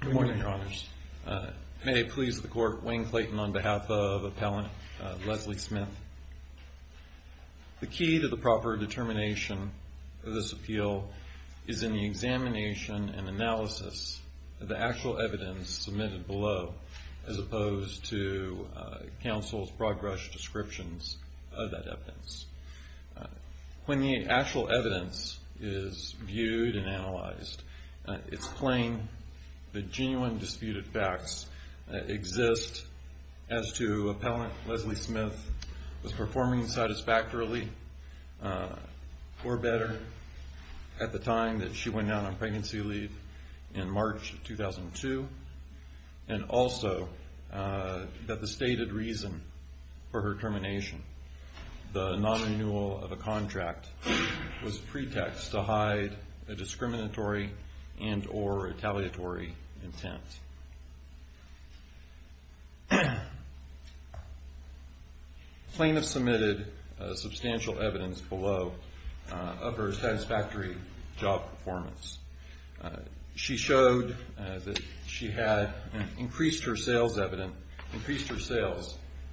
Good morning, Your Honors. May it please the Court, Wayne Clayton on behalf of Appellant Leslie Smith. The key to the proper determination of this appeal is in the examination and analysis of the actual evidence submitted below, as opposed to counsel's broad-brush descriptions of that evidence. When the actual evidence is viewed and analyzed, it's plain that genuine disputed facts exist as to Appellant Leslie Smith was performing satisfactorily or better at the time that she went down on pregnancy leave in March 2002, and also that the stated reason for her termination, the non-renewal of a contract, was pretext to hide a discriminatory and or retaliatory intent. Plaintiffs submitted substantial evidence below of her satisfactory job performance. She showed that she had increased her sales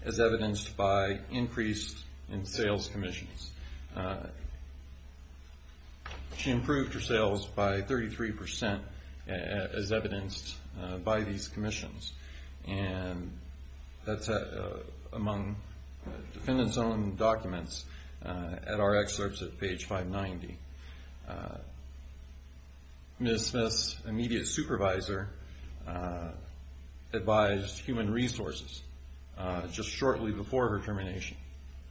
as evidenced by increase in sales commissions. She improved her sales by 33% as evidenced by these commissions, and that's among defendants' own documents at our excerpts at page 590. Ms. Smith's immediate supervisor advised human resources just shortly before her termination,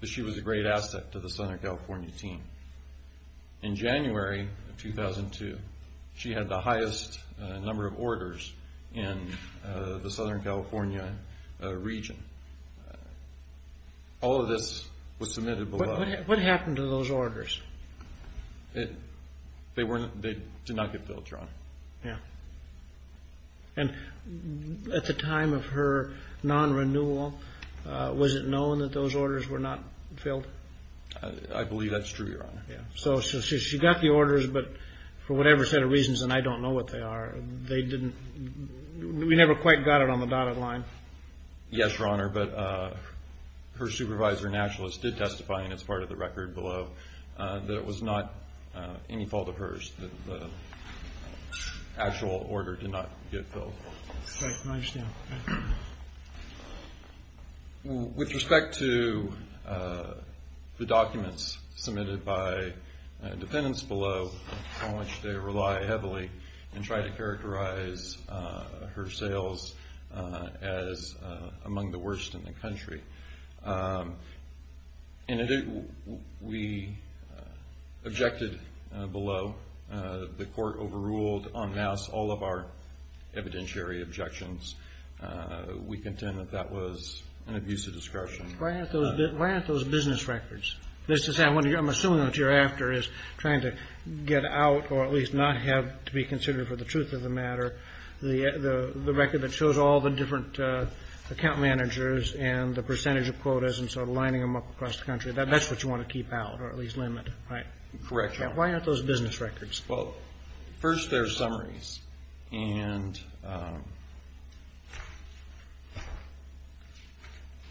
but she was a great asset to the Southern California team. In January of 2002, she had the highest number of orders in the Southern California region. All of this was submitted below. What happened to those orders? They did not get filled, Your Honor. At the time of her non-renewal, was it known that those orders were not filled? I believe that's true, Your Honor. So she got the orders, but for whatever set of reasons, and I Yes, Your Honor, but her supervisor, Nationalist, did testify, and it's part of the record below, that it was not any fault of hers that the actual order did not get filled. With respect to the documents submitted by defendants below, on which they rely heavily, and try to characterize her sales as among the worst in the country, we objected below. The court overruled, en masse, all of our evidentiary objections. We contend that that was an abuse of discretion. Why aren't those business records? I'm assuming what you're after is trying to get out, or at least not have to be considered for the truth of the matter, the record that shows all the different account managers and the percentage of quotas and sort of lining them up across the country. That's what you want to keep out, or at least limit, right? Correct, Your Honor. Why aren't those business records? Well, first, they're summaries, and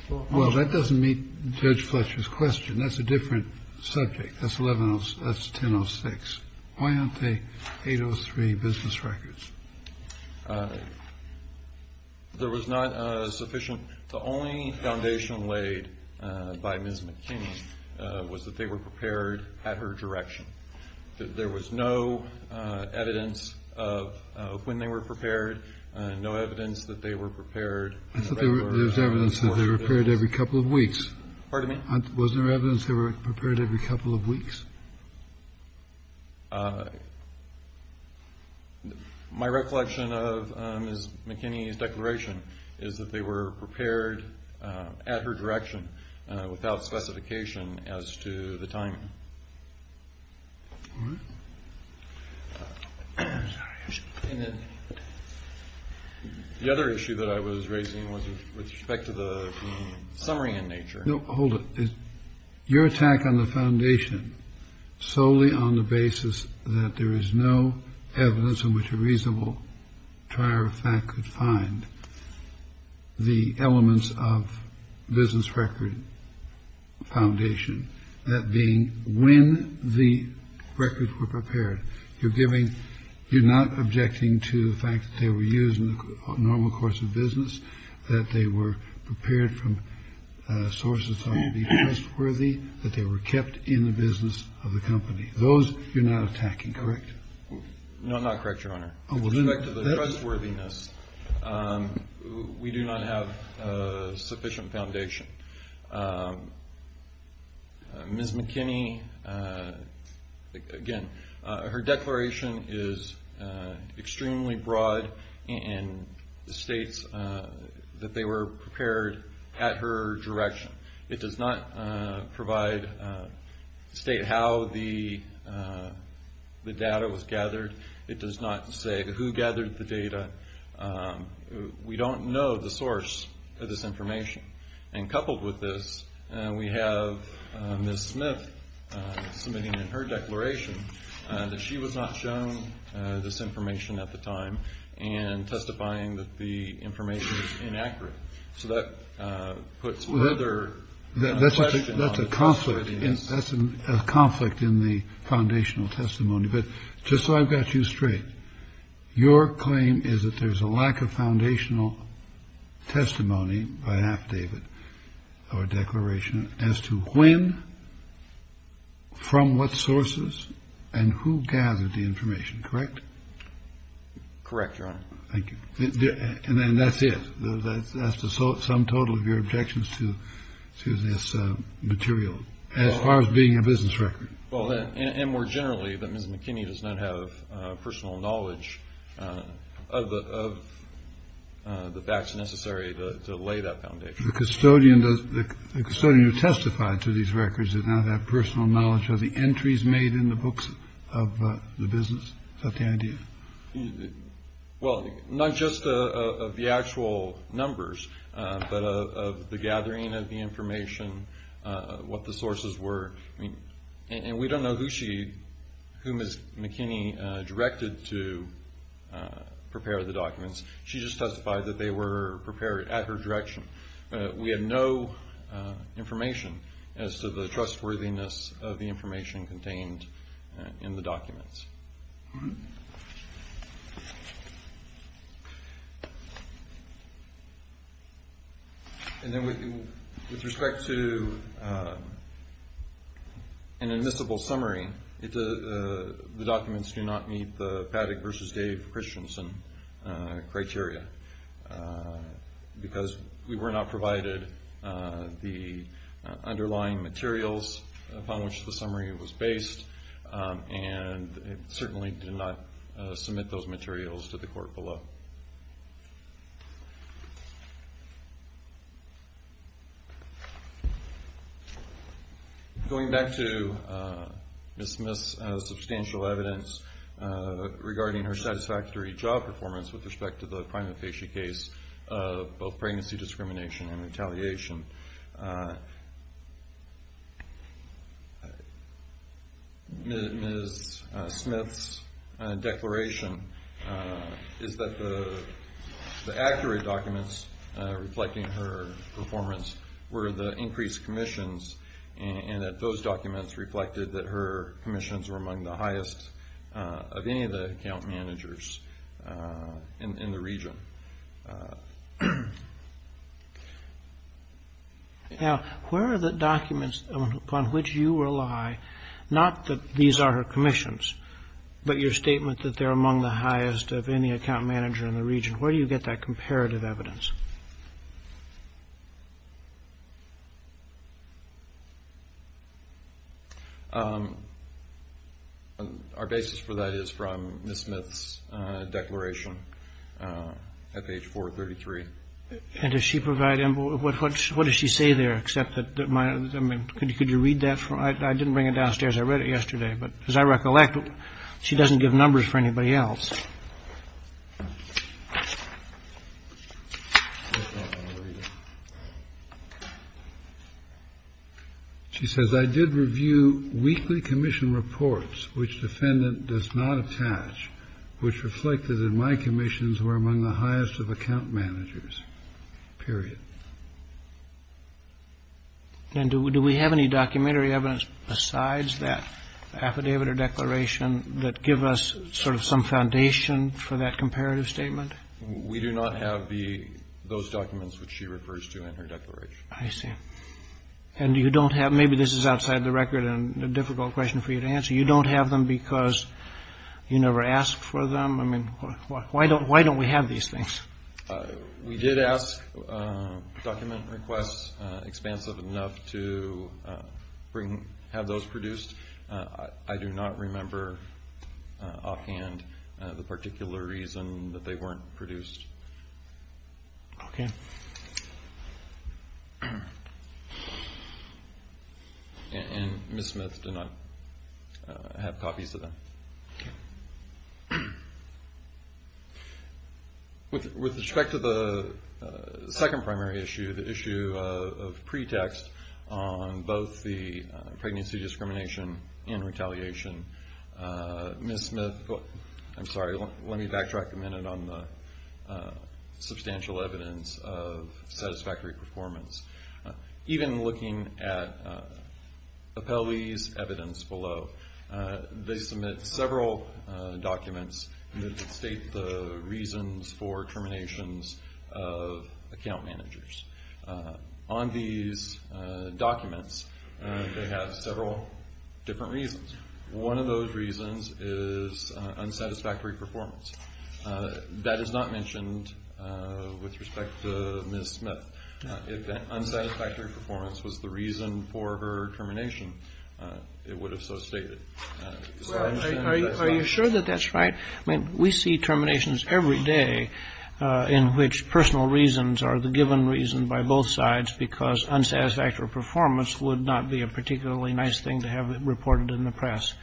Well, that doesn't meet Judge Fletcher's question. That's a different subject. That's 1106. Why aren't they 803 business records? There was not sufficient. The only foundation laid by Ms. McKinney was that they were prepared at her direction. There was no evidence of when they were prepared, no evidence that they were prepared. I thought there was evidence that they were prepared every couple of weeks. Pardon me? Wasn't there evidence they were prepared every couple of weeks? My recollection of Ms. McKinney's declaration is that they were prepared at her direction without specification as to the timing. All right. The other issue that I was raising was with respect to the summary in nature. No, hold it. Your attack on the foundation solely on the basis that there is no evidence in which a reasonable trier of fact could find the records were prepared. You're giving, you're not objecting to the fact that they were used in the normal course of business, that they were prepared from sources that would be trustworthy, that they were kept in the business of the company. Those you're not attacking, correct? No, I'm not correct, Your Honor. With respect to the trustworthiness, we do not have sufficient foundation. Ms. McKinney, again, her declaration is extremely broad and states that they were prepared at her direction. It does not provide, state how the data was gathered. It does not say who gathered the data. We don't know the source of this information. And coupled with this, we have Ms. Smith submitting in her declaration that she was not shown this information at the time and testifying that the information is inaccurate. So that puts whether that's a conflict in a conflict in the foundational testimony. But just so I've got you straight, your claim is that there's a lack of foundational testimony by half David or declaration as to when. From what sources and who gathered the information, correct? Correct. Thank you. And then that's it. That's the sum total of your objections to this material as far as being a business record. Well, and more generally, that Ms. McKinney does not have personal knowledge of the facts necessary to lay that foundation. The custodian, the custodian who testified to these records, did not have personal knowledge of the entries made in the books of the business of the idea. Well, not just of the actual numbers, but of the gathering of the information, what the sources were. And we don't know who she, whom Ms. McKinney directed to prepare the documents. She just testified that they were prepared at her direction. But we have no information as to the trustworthiness of the information contained in the documents. And then with respect to an admissible summary, the documents do not meet the Paddock versus Dave Christiansen criteria because we were not provided the underlying materials upon which the summary was based. And certainly did not submit those materials to the court below. Going back to Ms. Smith's substantial evidence regarding her satisfactory job performance with respect to the prima facie case of both pregnancy discrimination and retaliation. Ms. Smith's declaration is that the accurate documents reflecting her performance were the increased commissions and that those documents reflected that her commissions were among the highest of any of the account managers in the region. Now, where are the documents upon which you rely, not that these are her commissions, but your statement that they're among the highest of any account manager in the region? Where do you get that comparative evidence? Our basis for that is from Ms. Smith's declaration at page 433. And does she provide, what does she say there, except that, could you read that? I didn't bring it downstairs, I read it yesterday, but as I recollect, she doesn't give numbers for anybody else. She says, I did review weekly commission reports, which defendant does not attach, which reflected in my commissions were among the highest of account managers, period. And do we have any documentary evidence besides that affidavit or declaration that give us sort of some foundation for that comparative statement? We do not have those documents which she refers to in her declaration. I see. And you don't have, maybe this is outside the record and a difficult question for you to answer, you don't have them because you never asked for them? I mean, why don't we have these things? We did ask document requests expansive enough to have those produced. I do not remember offhand the particular reason that they weren't produced. Okay. And Ms. Smith did not have copies of them. Okay. With respect to the second primary issue, the issue of pretext on both the pregnancy discrimination and retaliation, Ms. Smith, I'm sorry, let me backtrack a minute on the substantial evidence of satisfactory performance. Even looking at Appellee's evidence below, they submit several documents that state the reasons for terminations of account managers. On these documents, they have several different reasons. One of those reasons is unsatisfactory performance. That is not mentioned with respect to Ms. Smith. If that unsatisfactory performance was the reason for her termination, it would have so stated. Are you sure that that's right? I mean, we see terminations every day in which personal reasons are the given reason by both sides because unsatisfactory performance would not be a particularly nice thing to have reported in the press.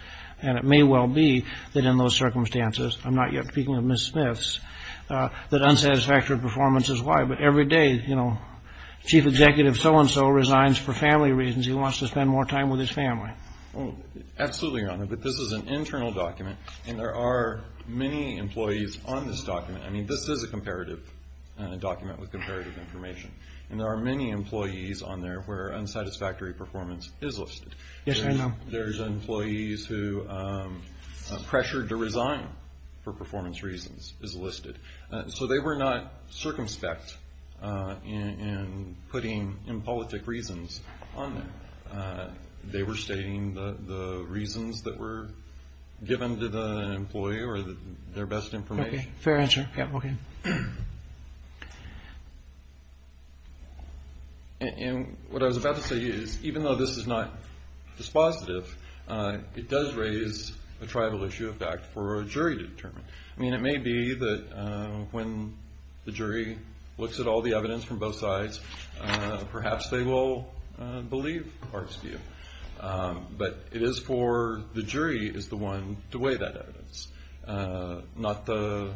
And it may well be that in those circumstances, I'm not yet speaking of Ms. Smith's, that unsatisfactory performance is why. But every day, you know, Chief Executive so-and-so resigns for family reasons. He wants to spend more time with his family. Absolutely, Your Honor. But this is an internal document, and there are many employees on this document. I mean, this is a comparative document with comparative information, and there are many employees on there where unsatisfactory performance is listed. Yes, I know. There's employees who are pressured to resign for performance reasons is listed. So they were not circumspect in putting impolitic reasons on there. They were stating the reasons that were given to the employee or their best information. Okay, fair answer. Yeah, okay. And what I was about to say is even though this is not dispositive, it does raise a tribal issue of fact for a jury to determine. I mean, it may be that when the jury looks at all the evidence from both sides, perhaps they will believe Park's view. But it is for the jury is the one to weigh that evidence, not the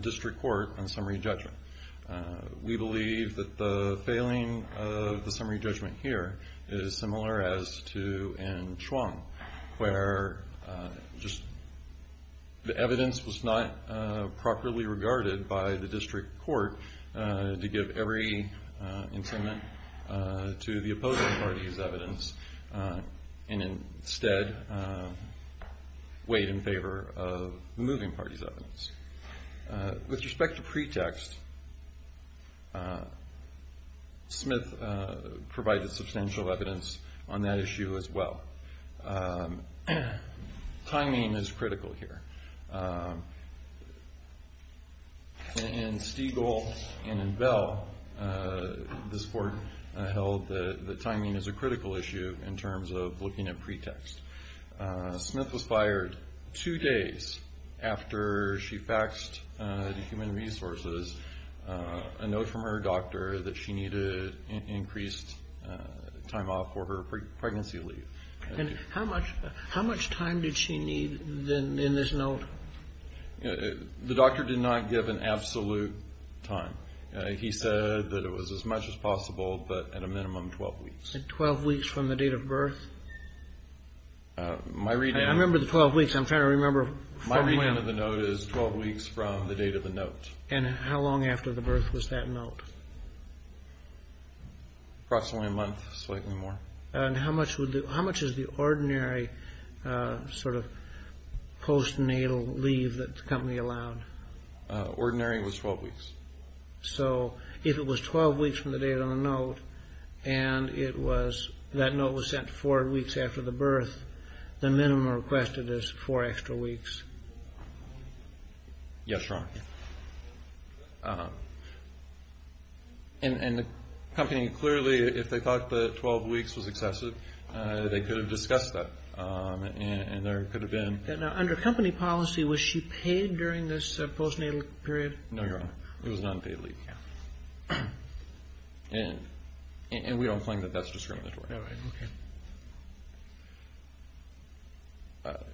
district court on summary judgment. We believe that the failing of the summary judgment here is similar as to in Chuang, where just the evidence was not properly regarded by the district court to give every incitement to the opposing party's evidence and instead weighed in favor of the moving party's evidence. With respect to pretext, Smith provided substantial evidence on that issue as well. Timing is critical here. In Stiegel and in Bell, this court held that timing is a critical issue in terms of looking at pretext. Smith was fired two days after she faxed to Human Resources a note from her doctor that she needed increased time off for her pregnancy leave. And how much time did she need in this note? The doctor did not give an absolute time. He said that it was as much as possible, but at a minimum 12 weeks. 12 weeks from the date of birth? I remember the 12 weeks. I'm trying to remember. My reading of the note is 12 weeks from the date of the note. And how long after the birth was that note? Approximately a month, slightly more. And how much is the ordinary sort of postnatal leave that the company allowed? Ordinary was 12 weeks. So if it was 12 weeks from the date on the note and that note was sent four weeks after the birth, the minimum requested is four extra weeks. Yes, Your Honor. And the company clearly, if they thought the 12 weeks was excessive, they could have discussed that and there could have been. Now, under company policy, was she paid during this postnatal period? No, Your Honor. It was non-paid leave. And we don't claim that that's discriminatory. All right. Okay.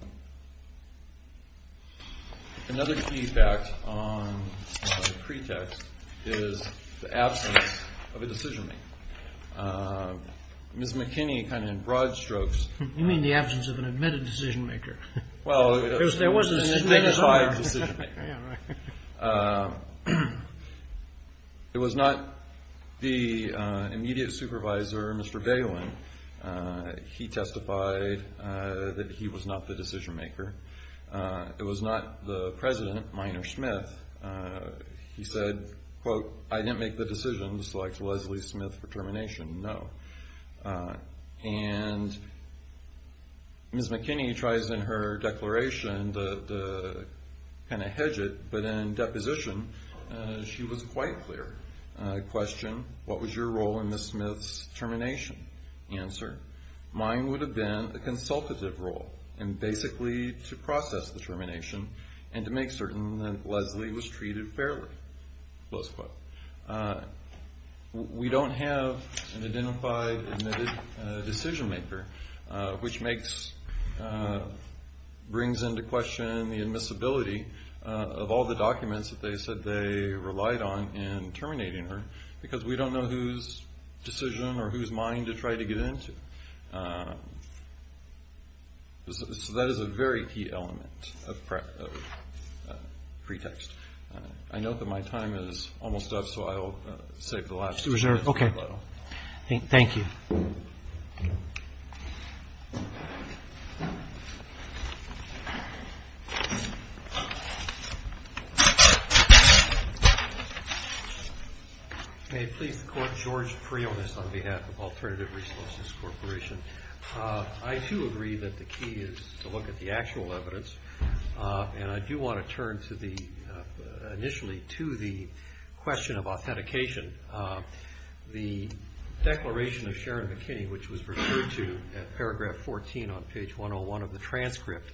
Another key fact on the pretext is the absence of a decision-maker. Ms. McKinney kind of in broad strokes. You mean the absence of an admitted decision-maker. Well, it was an identified decision-maker. It was not the immediate supervisor, Mr. Balin, he testified that he was not the decision-maker. It was not the president, Minor Smith. He said, quote, I didn't make the decision to select Leslie Smith for termination, no. And Ms. McKinney tries in her declaration to kind of hedge it, but in deposition she was quite clear. Question, what was your role in Ms. Smith's termination? Answer, mine would have been a consultative role, and basically to process the termination and to make certain that Leslie was treated fairly, close quote. We don't have an identified admitted decision-maker, which brings into question the admissibility of all the documents that they said they relied on in terminating her, because we don't know whose decision or whose mind to try to get into. So that is a very key element of pretext. I note that my time is almost up, so I'll save the last two minutes. Okay. Thank you. May it please the Court, George Priones on behalf of Alternative Resources Corporation. I, too, agree that the key is to look at the actual evidence, and I do want to turn initially to the question of authentication. The declaration of Sharon McKinney, which was referred to at paragraph 14 on page 101 of the transcript,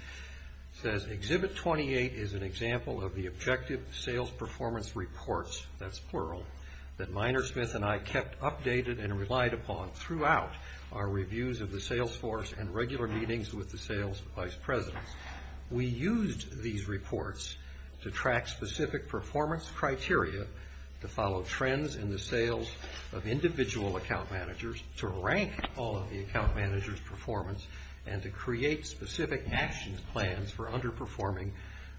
says, Exhibit 28 is an example of the objective sales performance reports, that's plural, that Minor Smith and I kept updated and relied upon throughout our reviews of the sales force and regular meetings with the sales vice presidents. We used these reports to track specific performance criteria, to follow trends in the sales of individual account managers, to rank all of the account managers' performance, and to create specific action plans for underperforming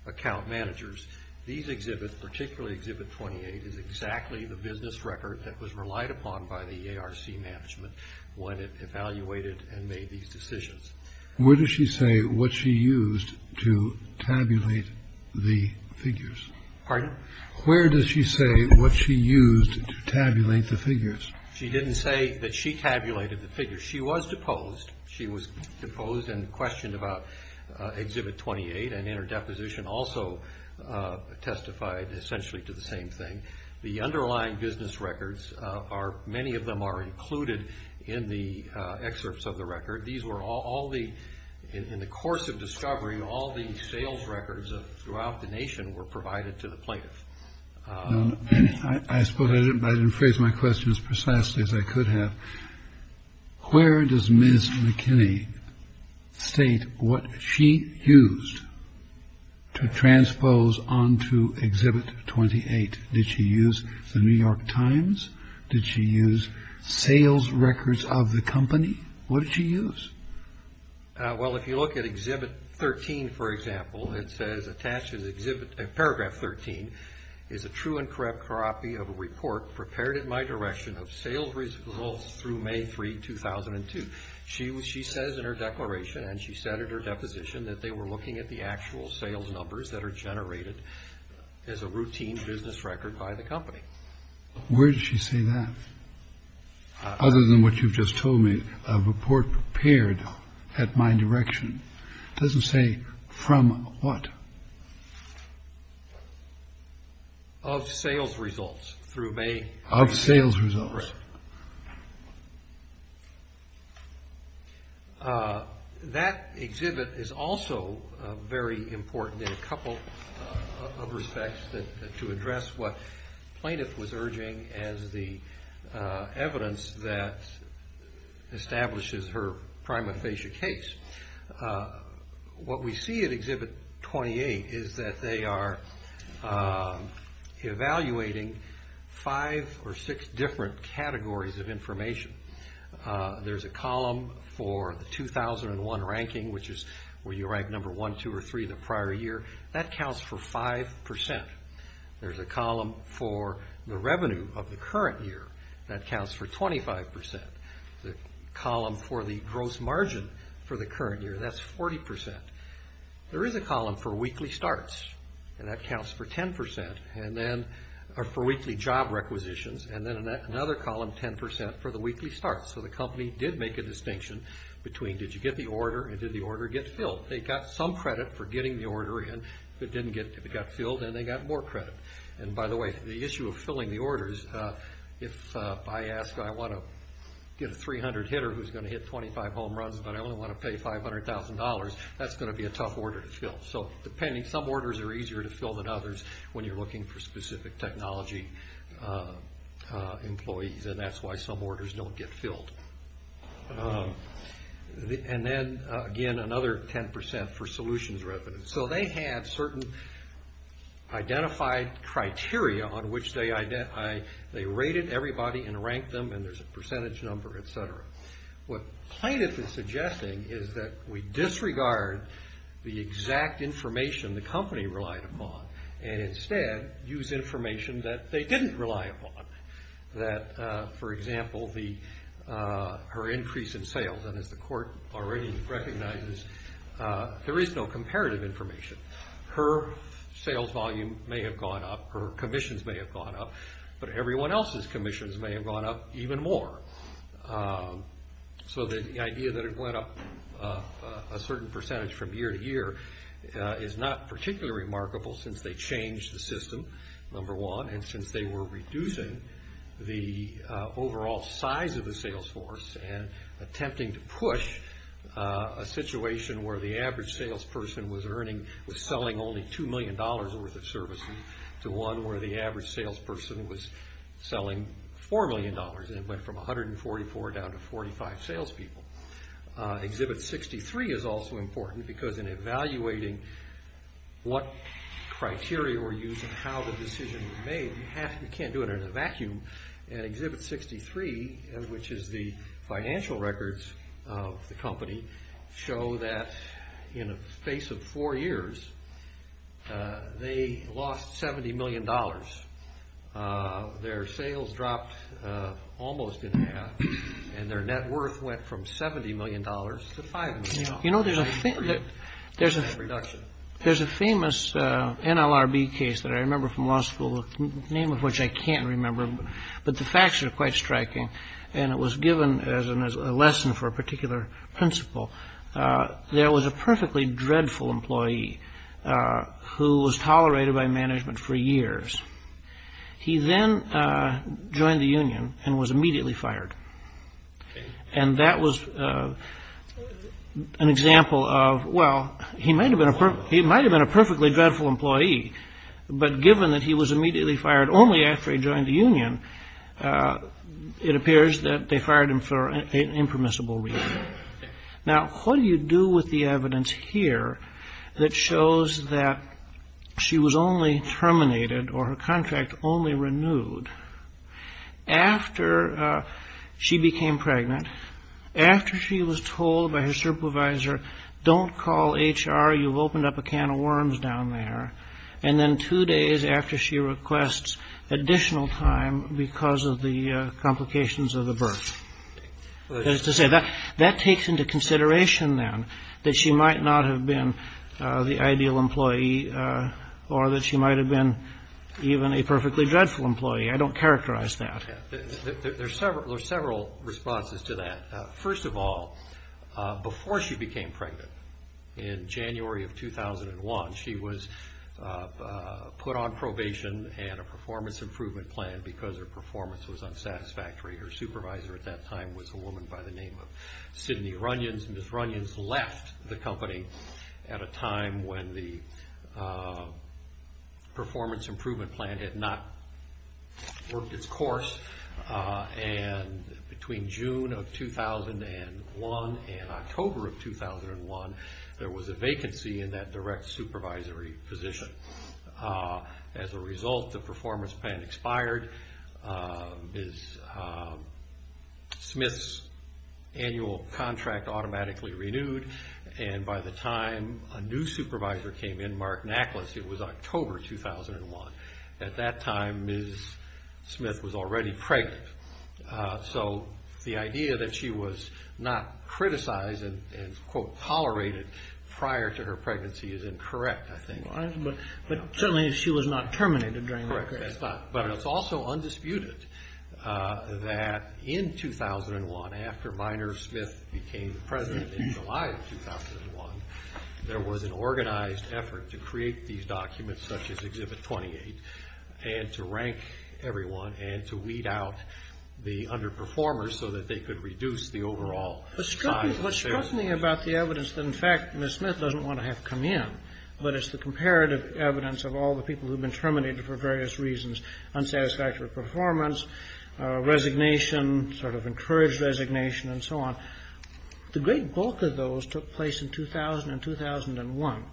account managers. These exhibits, particularly Exhibit 28, is exactly the business record that was relied upon by the ARC management when it evaluated and made these decisions. Where does she say what she used to tabulate the figures? Pardon? Where does she say what she used to tabulate the figures? She didn't say that she tabulated the figures. She was deposed. She was deposed and questioned about Exhibit 28, and in her deposition also testified essentially to the same thing. The underlying business records, many of them are included in the excerpts of the record. These were all the, in the course of discovery, all the sales records throughout the nation were provided to the plaintiffs. I suppose I didn't phrase my question as precisely as I could have. Where does Ms. McKinney state what she used to transpose onto Exhibit 28? Did she use the New York Times? Did she use sales records of the company? What did she use? Well, if you look at Exhibit 13, for example, it says attached in Exhibit, Paragraph 13, is a true and correct copy of a report prepared at my direction of sales results through May 3, 2002. She says in her declaration, and she said in her deposition, that they were looking at the actual sales numbers that are generated as a routine business record by the company. Where did she say that? Other than what you've just told me, a report prepared at my direction. It doesn't say from what. Of sales results through May. Of sales results. Right. That exhibit is also very important in a couple of respects to address what plaintiff was urging as the evidence that establishes her prima facie case. What we see at Exhibit 28 is that they are evaluating five or six different categories of information. There's a column for the 2001 ranking, which is where you rank number one, two, or three in the prior year. That counts for 5%. There's a column for the revenue of the current year. That counts for 25%. The column for the gross margin for the current year, that's 40%. There is a column for weekly starts, and that counts for 10% for weekly job requisitions, and then another column, 10%, for the weekly starts. So the company did make a distinction between did you get the order and did the order get filled. They got some credit for getting the order in. If it got filled, then they got more credit. By the way, the issue of filling the orders, if I ask, I want to get a 300 hitter who's going to hit 25 home runs, but I only want to pay $500,000, that's going to be a tough order to fill. Depending, some orders are easier to fill than others when you're looking for specific technology employees, and that's why some orders don't get filled. Then, again, another 10% for solutions revenue. So they had certain identified criteria on which they rated everybody and ranked them, and there's a percentage number, et cetera. What plaintiff is suggesting is that we disregard the exact information the company relied upon and instead use information that they didn't rely upon, that, for example, her increase in sales. As the court already recognizes, there is no comparative information. Her sales volume may have gone up, her commissions may have gone up, but everyone else's commissions may have gone up even more. So the idea that it went up a certain percentage from year to year is not particularly remarkable since they changed the system, number one, and since they were reducing the overall size of the sales force and attempting to push a situation where the average salesperson was selling only $2 million worth of services to one where the average salesperson was selling $4 million, and it went from 144 down to 45 salespeople. Exhibit 63 is also important because in evaluating what criteria were used and how the decision was made, you can't do it in a vacuum, and Exhibit 63, which is the financial records of the company, show that in a space of four years, they lost $70 million. Their sales dropped almost in half, and their net worth went from $70 million to $5 million. You know, there's a famous NLRB case that I remember from law school, the name of which I can't remember, but the facts are quite striking, and it was given as a lesson for a particular principle. There was a perfectly dreadful employee who was tolerated by management for years. He then joined the union and was immediately fired. And that was an example of, well, he might have been a perfectly dreadful employee, but given that he was immediately fired only after he joined the union, it appears that they fired him for an impermissible reason. Now, what do you do with the evidence here that shows that she was only terminated or her contract only renewed after she became pregnant, after she was told by her supervisor, don't call HR, you've opened up a can of worms down there, and then two days after she requests additional time because of the complications of the birth? That is to say, that takes into consideration, then, that she might not have been the ideal employee or that she might have been even a perfectly dreadful employee. I don't characterize that. There's several responses to that. First of all, before she became pregnant in January of 2001, she was put on probation and a performance improvement plan because her performance was unsatisfactory. Her supervisor at that time was a woman by the name of Sidney Runyons. Ms. Runyons left the company at a time when the performance improvement plan had not worked its course. And between June of 2001 and October of 2001, there was a vacancy in that direct supervisory position. As a result, the performance plan expired, Ms. Smith's annual contract automatically renewed, and by the time a new supervisor came in, Mark Nackless, it was October 2001. At that time, Ms. Smith was already pregnant. So the idea that she was not criticized and, quote, tolerated prior to her pregnancy is incorrect, I think. But certainly she was not terminated during that period. Correct. That's not. But it's also undisputed that in 2001, after Minor Smith became president in July of 2001, there was an organized effort to create these documents such as Exhibit 28 and to rank everyone and to weed out the underperformers so that they could reduce the overall size. What struck me about the evidence that, in fact, Ms. Smith doesn't want to have come in, but it's the comparative evidence of all the people who have been terminated for various reasons, unsatisfactory performance, resignation, sort of encouraged resignation, and so on, the great bulk of those took place in 2000 and 2001.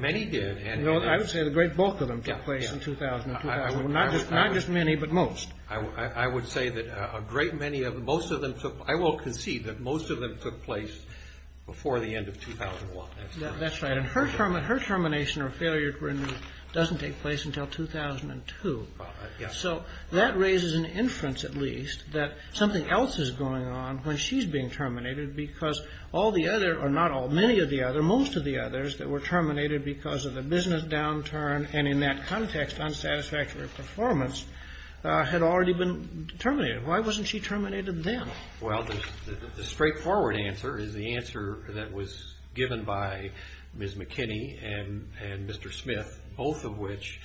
Many did. I would say the great bulk of them took place in 2000 and 2001, not just many, but most. I would say that a great many of them, most of them took, I will concede that most of them took place before the end of 2001. That's right. And her termination or failure doesn't take place until 2002. So that raises an inference, at least, that something else is going on when she's being terminated because all the other, or not all, many of the other, most of the others that were terminated because of the business downturn and, in that context, unsatisfactory performance, had already been terminated. Why wasn't she terminated then? Well, the straightforward answer is the answer that was given by Ms. McKinney and Mr. Smith, both of which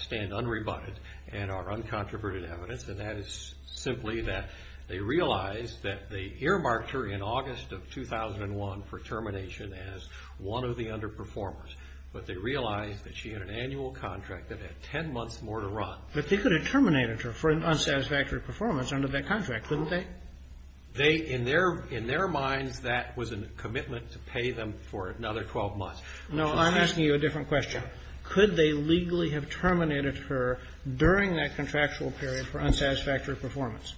stand unrebutted and are uncontroverted evidence, and that is simply that they realized that they earmarked her in August of 2001 for termination as one of the underperformers, but they realized that she had an annual contract that had 10 months more to run. But they could have terminated her for an unsatisfactory performance under that contract, couldn't they? They, in their minds, that was a commitment to pay them for another 12 months. No, I'm asking you a different question. Could they legally have terminated her during that contractual period for unsatisfactory performance?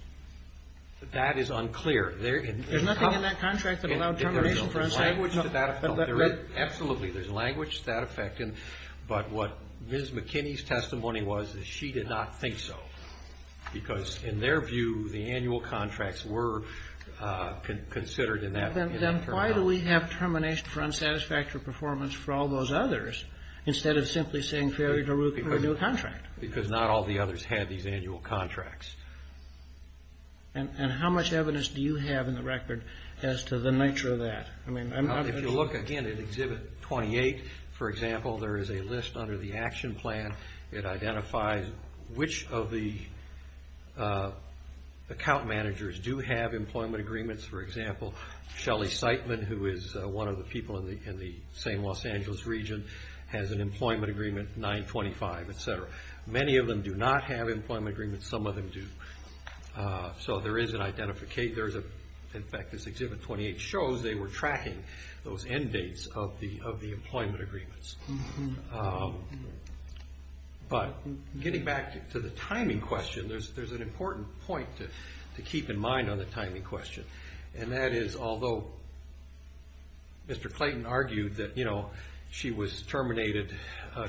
That is unclear. There's nothing in that contract that allowed termination for unsatisfactory performance. Absolutely, there's language to that effect. But what Ms. McKinney's testimony was is she did not think so, because in their view the annual contracts were considered in that term. Then why do we have termination for unsatisfactory performance for all those others instead of simply saying, fairly to root for a new contract? Because not all the others had these annual contracts. And how much evidence do you have in the record as to the nature of that? If you look, again, at Exhibit 28, for example, there is a list under the action plan. It identifies which of the account managers do have employment agreements. For example, Shelly Siteman, who is one of the people in the same Los Angeles region, has an employment agreement 925, etc. Many of them do not have employment agreements. Some of them do. So there is an identification. In fact, as Exhibit 28 shows, they were tracking those end dates of the employment agreements. But getting back to the timing question, there's an important point to keep in mind on the timing question. And that is, although Mr. Clayton argued that she was terminated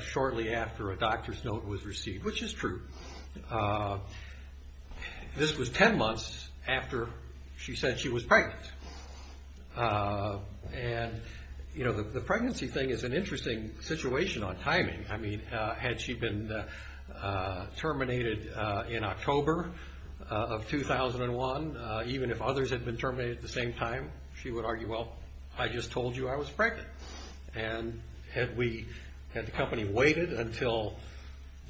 shortly after a doctor's note was received, which is true, this was 10 months after she said she was pregnant. And, you know, the pregnancy thing is an interesting situation on timing. I mean, had she been terminated in October of 2001, even if others had been terminated at the same time, she would argue, well, I just told you I was pregnant. And had the company waited until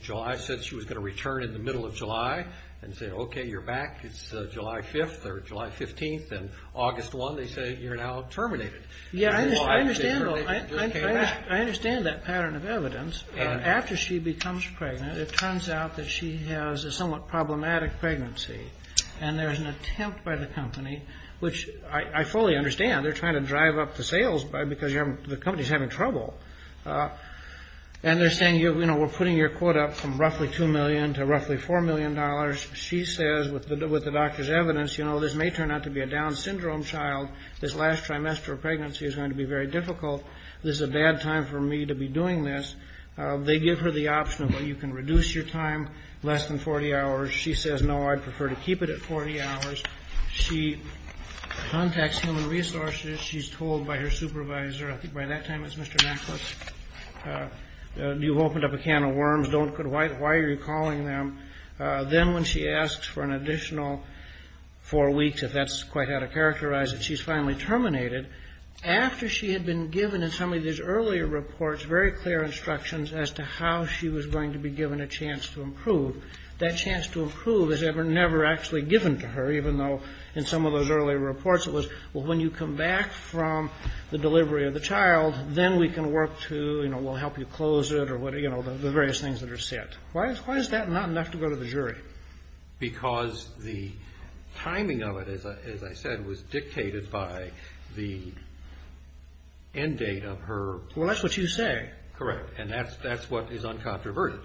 July, said she was going to return in the middle of July, and said, okay, you're back, it's July 5th or July 15th, and August 1, they say you're now terminated. Yeah, I understand that pattern of evidence. After she becomes pregnant, it turns out that she has a somewhat problematic pregnancy. And there's an attempt by the company, which I fully understand, they're trying to drive up the sales because the company's having trouble. And they're saying, you know, we're putting your quote up from roughly $2 million to roughly $4 million. She says, with the doctor's evidence, you know, this may turn out to be a Down syndrome child. This last trimester of pregnancy is going to be very difficult. This is a bad time for me to be doing this. They give her the option of, well, you can reduce your time less than 40 hours. She says, no, I'd prefer to keep it at 40 hours. She contacts human resources. She's told by her supervisor. I think by that time it's Mr. Nicholas. You've opened up a can of worms. Why are you calling them? Then when she asks for an additional four weeks, if that's quite how to characterize it, she's finally terminated. After she had been given in some of these earlier reports very clear instructions as to how she was going to be given a chance to improve, that chance to improve is never actually given to her, even though in some of those earlier reports it was, well, when you come back from the delivery of the child, then we can work to, you know, we'll help you close it or, you know, the various things that are set. Why is that not enough to go to the jury? Because the timing of it, as I said, was dictated by the end date of her. Well, that's what you say. Correct. And that's what is uncontroverted.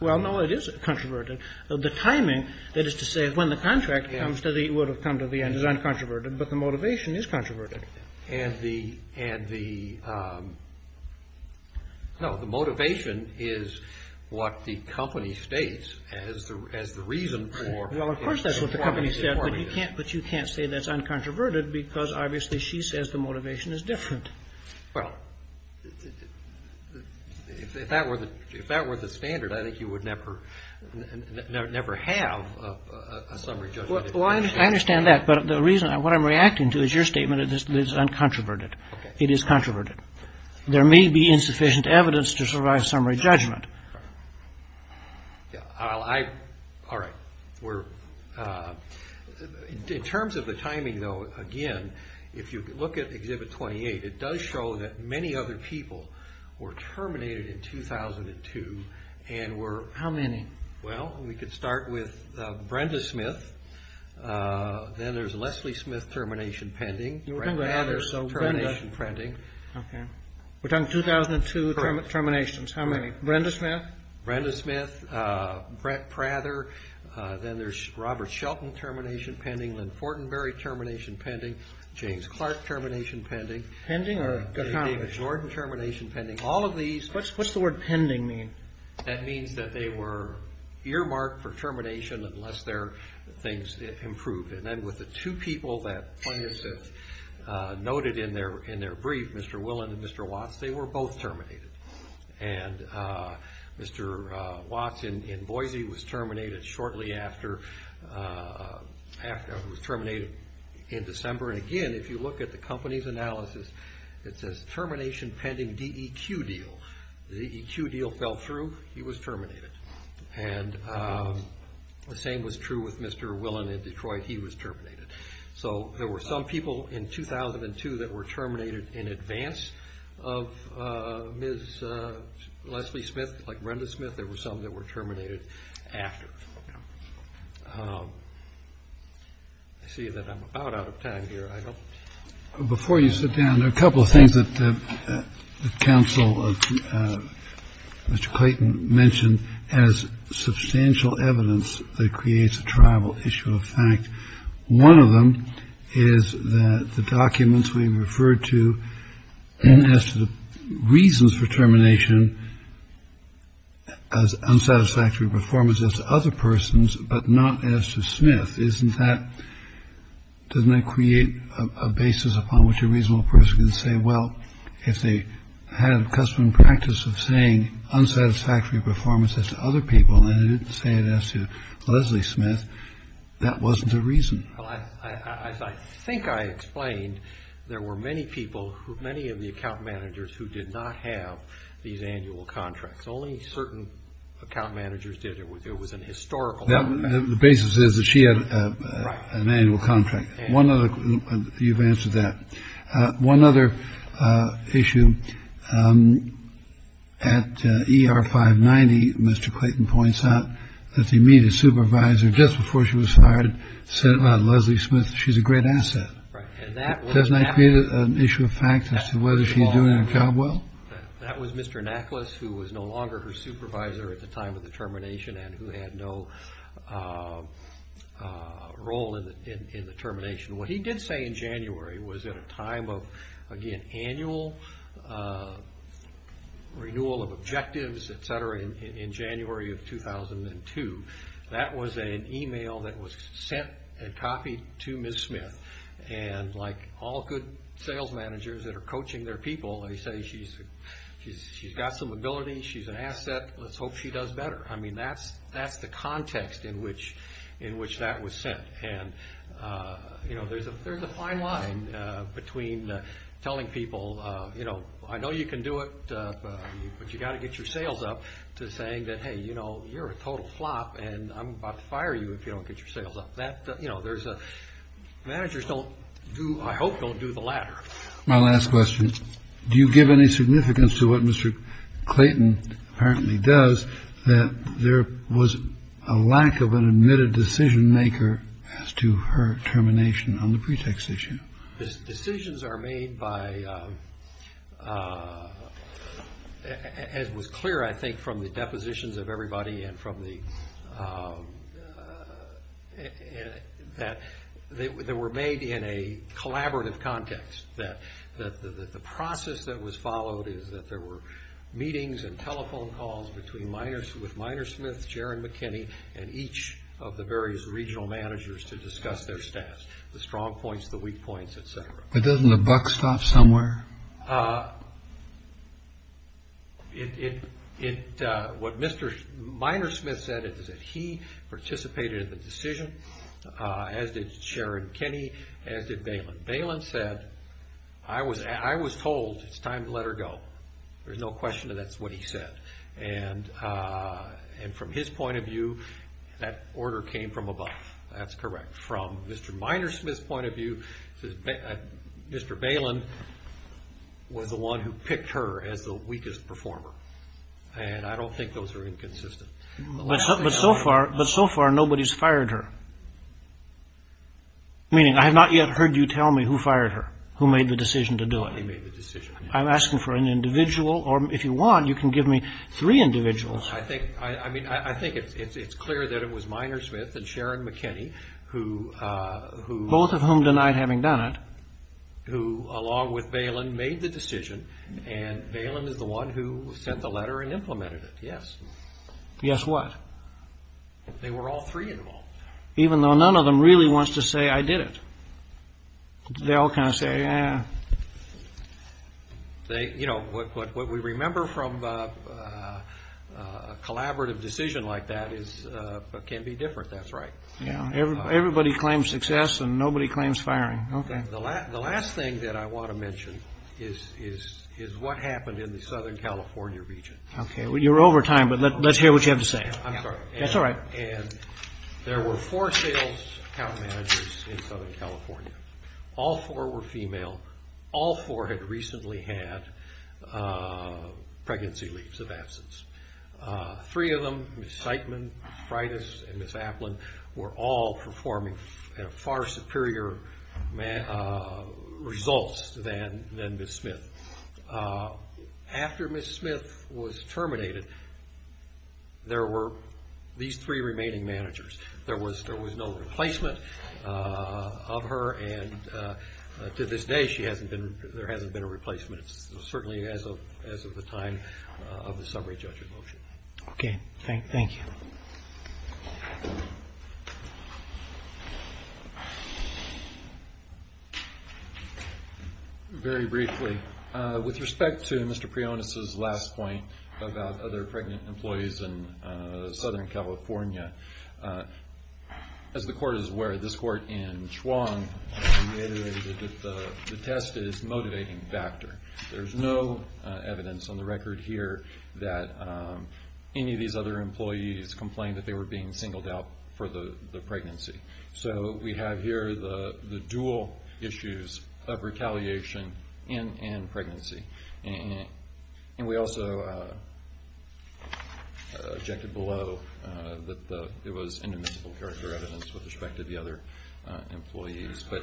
Well, no, it is controverted. The timing, that is to say when the contract comes to the end, would have come to the end, is uncontroverted, but the motivation is controverted. And the, no, the motivation is what the company states as the reason for. Well, of course that's what the company said, but you can't say that's uncontroverted because obviously she says the motivation is different. Well, if that were the standard, I think you would never have a summary judgment. Well, I understand that, but the reason, what I'm reacting to is your statement that this is uncontroverted. Okay. It is controverted. There may be insufficient evidence to survive summary judgment. All right. In terms of the timing, though, again, if you look at Exhibit 28, it does show that many other people were terminated in 2002 and were... How many? Well, we could start with Brenda Smith. Then there's Leslie Smith termination pending. You were talking about others. Brenda Prather termination pending. Okay. We're talking 2002 terminations. Correct. How many? Brenda Smith? Brenda Smith, Brett Prather. Then there's Robert Shelton termination pending, Lynn Fortenberry termination pending, James Clark termination pending. Pending or accomplished? David Jordan termination pending. All of these... What's the word pending mean? That means that they were earmarked for termination unless their things improved. And then with the two people that Plenius noted in their brief, Mr. Willen and Mr. Watts, they were both terminated. And Mr. Watts in Boise was terminated shortly after... He was terminated in December. And, again, if you look at the company's analysis, it says termination pending DEQ deal. The DEQ deal fell through. He was terminated. And the same was true with Mr. Willen in Detroit. He was terminated. So there were some people in 2002 that were terminated in advance of Ms. Leslie Smith, like Brenda Smith. There were some that were terminated after. I see that I'm about out of time here. I don't... Before you sit down, there are a couple of things that the counsel, Mr. Clayton, mentioned as substantial evidence that creates a tribal issue of fact. One of them is that the documents we referred to as the reasons for termination as unsatisfactory performance as other persons, but not as to Smith. Isn't that... doesn't that create a basis upon which a reasonable person can say, well, if they had a custom and practice of saying unsatisfactory performance as to other people, and didn't say it as to Leslie Smith, that wasn't a reason. Well, as I think I explained, there were many people who... many of the account managers who did not have these annual contracts. Only certain account managers did. It was an historical... The basis is that she had an annual contract. One other... you've answered that. One other issue. At ER 590, Mr. Clayton points out that the immediate supervisor, just before she was hired, said about Leslie Smith, she's a great asset. Doesn't that create an issue of fact as to whether she's doing her job well? That was Mr. Naklas, who was no longer her supervisor at the time of the termination and who had no role in the termination. What he did say in January was at a time of, again, annual renewal of objectives, et cetera, in January of 2002. That was an email that was sent and copied to Ms. Smith. And like all good sales managers that are coaching their people, they say she's got some ability, she's an asset, let's hope she does better. I mean, that's the context in which that was sent. And, you know, there's a fine line between telling people, you know, I know you can do it, but you've got to get your sales up to saying that, hey, you know, you're a total flop and I'm about to fire you if you don't get your sales up. You know, there's a... managers don't do... I hope don't do the latter. My last question. Do you give any significance to what Mr. Clayton apparently does, that there was a lack of an admitted decision maker as to her termination on the pretext issue? Decisions are made by, as was clear, I think, from the depositions of everybody and from the... They were made in a collaborative context, that the process that was followed is that there were meetings and telephone calls between Miners, with Miner Smith, Sharon McKinney, and each of the various regional managers to discuss their stats, the strong points, the weak points, et cetera. But doesn't the buck stop somewhere? What Miner Smith said is that he participated in the decision, as did Sharon McKinney, as did Balin. Balin said, I was told it's time to let her go. There's no question that that's what he said. And from his point of view, that order came from above. That's correct. From Mr. Miner Smith's point of view, Mr. Balin was the one who picked her as the weakest performer. And I don't think those are inconsistent. But so far, nobody's fired her. Meaning, I have not yet heard you tell me who fired her, who made the decision to do it. I'm asking for an individual, or if you want, you can give me three individuals. I think it's clear that it was Miner Smith and Sharon McKinney, who... Both of whom denied having done it. Who, along with Balin, made the decision, and Balin is the one who sent the letter and implemented it, yes. Yes, what? They were all three involved. Even though none of them really wants to say, I did it. They all kind of say, eh. You know, what we remember from a collaborative decision like that can be different. That's right. Everybody claims success, and nobody claims firing. Okay. The last thing that I want to mention is what happened in the Southern California region. Okay. You're over time, but let's hear what you have to say. I'm sorry. That's all right. There were four sales account managers in Southern California. All four were female. All four had recently had pregnancy leaves of absence. Three of them, Ms. Zeitman, Ms. Freitas, and Ms. Applin, were all performing at far superior results than Ms. Smith. After Ms. Smith was terminated, there were these three remaining managers. There was no replacement of her, and to this day, there hasn't been a replacement, certainly as of the time of the summary judge's motion. Okay. Thank you. Thank you. Very briefly, with respect to Mr. Prionis' last point about other pregnant employees in Southern California, as the court is aware, this court in Schwann reiterated that the test is a motivating factor. There's no evidence on the record here that any of these other employees complained that they were being singled out for the pregnancy. So we have here the dual issues of retaliation and pregnancy. And we also objected below that it was indomitable character evidence with respect to the other employees. But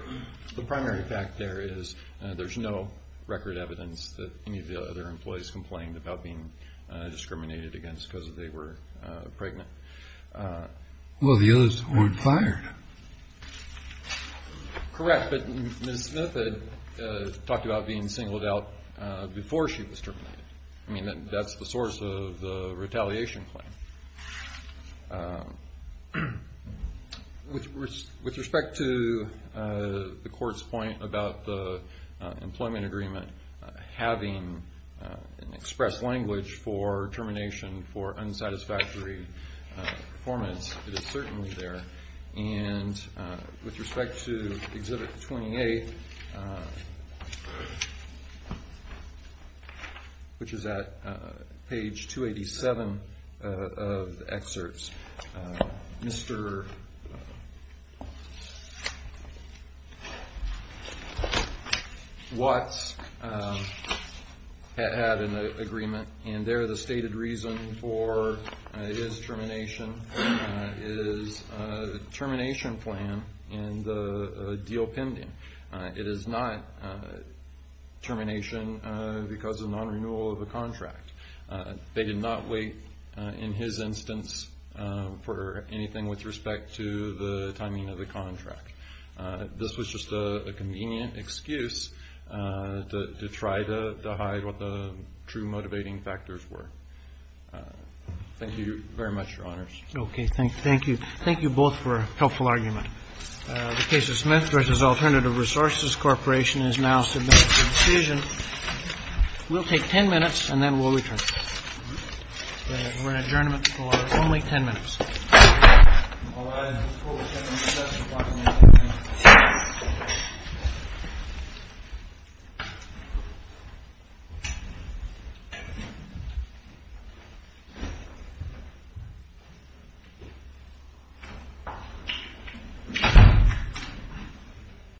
the primary fact there is there's no record evidence that any of the other employees complained about being discriminated against because they were pregnant. Well, the others weren't fired. Correct, but Ms. Smith had talked about being singled out before she was terminated. I mean, that's the source of the retaliation claim. With respect to the court's point about the employment agreement having an express language for termination for unsatisfactory performance, it is certainly there. And with respect to Exhibit 28, which is at page 287 of the excerpts, Mr. Watts had an agreement, and there the stated reason for his termination is termination plan and the deal pending. It is not termination because of non-renewal of the contract. They did not wait, in his instance, for anything with respect to the timing of the contract. This was just a convenient excuse to try to hide what the true motivating factors were. Thank you very much, Your Honors. Okay, thank you. Thank you both for a helpful argument. The case of Smith v. Alternative Resources Corporation is now submitted for decision. We'll take 10 minutes, and then we'll return. We're in adjournment for only 10 minutes. All rise.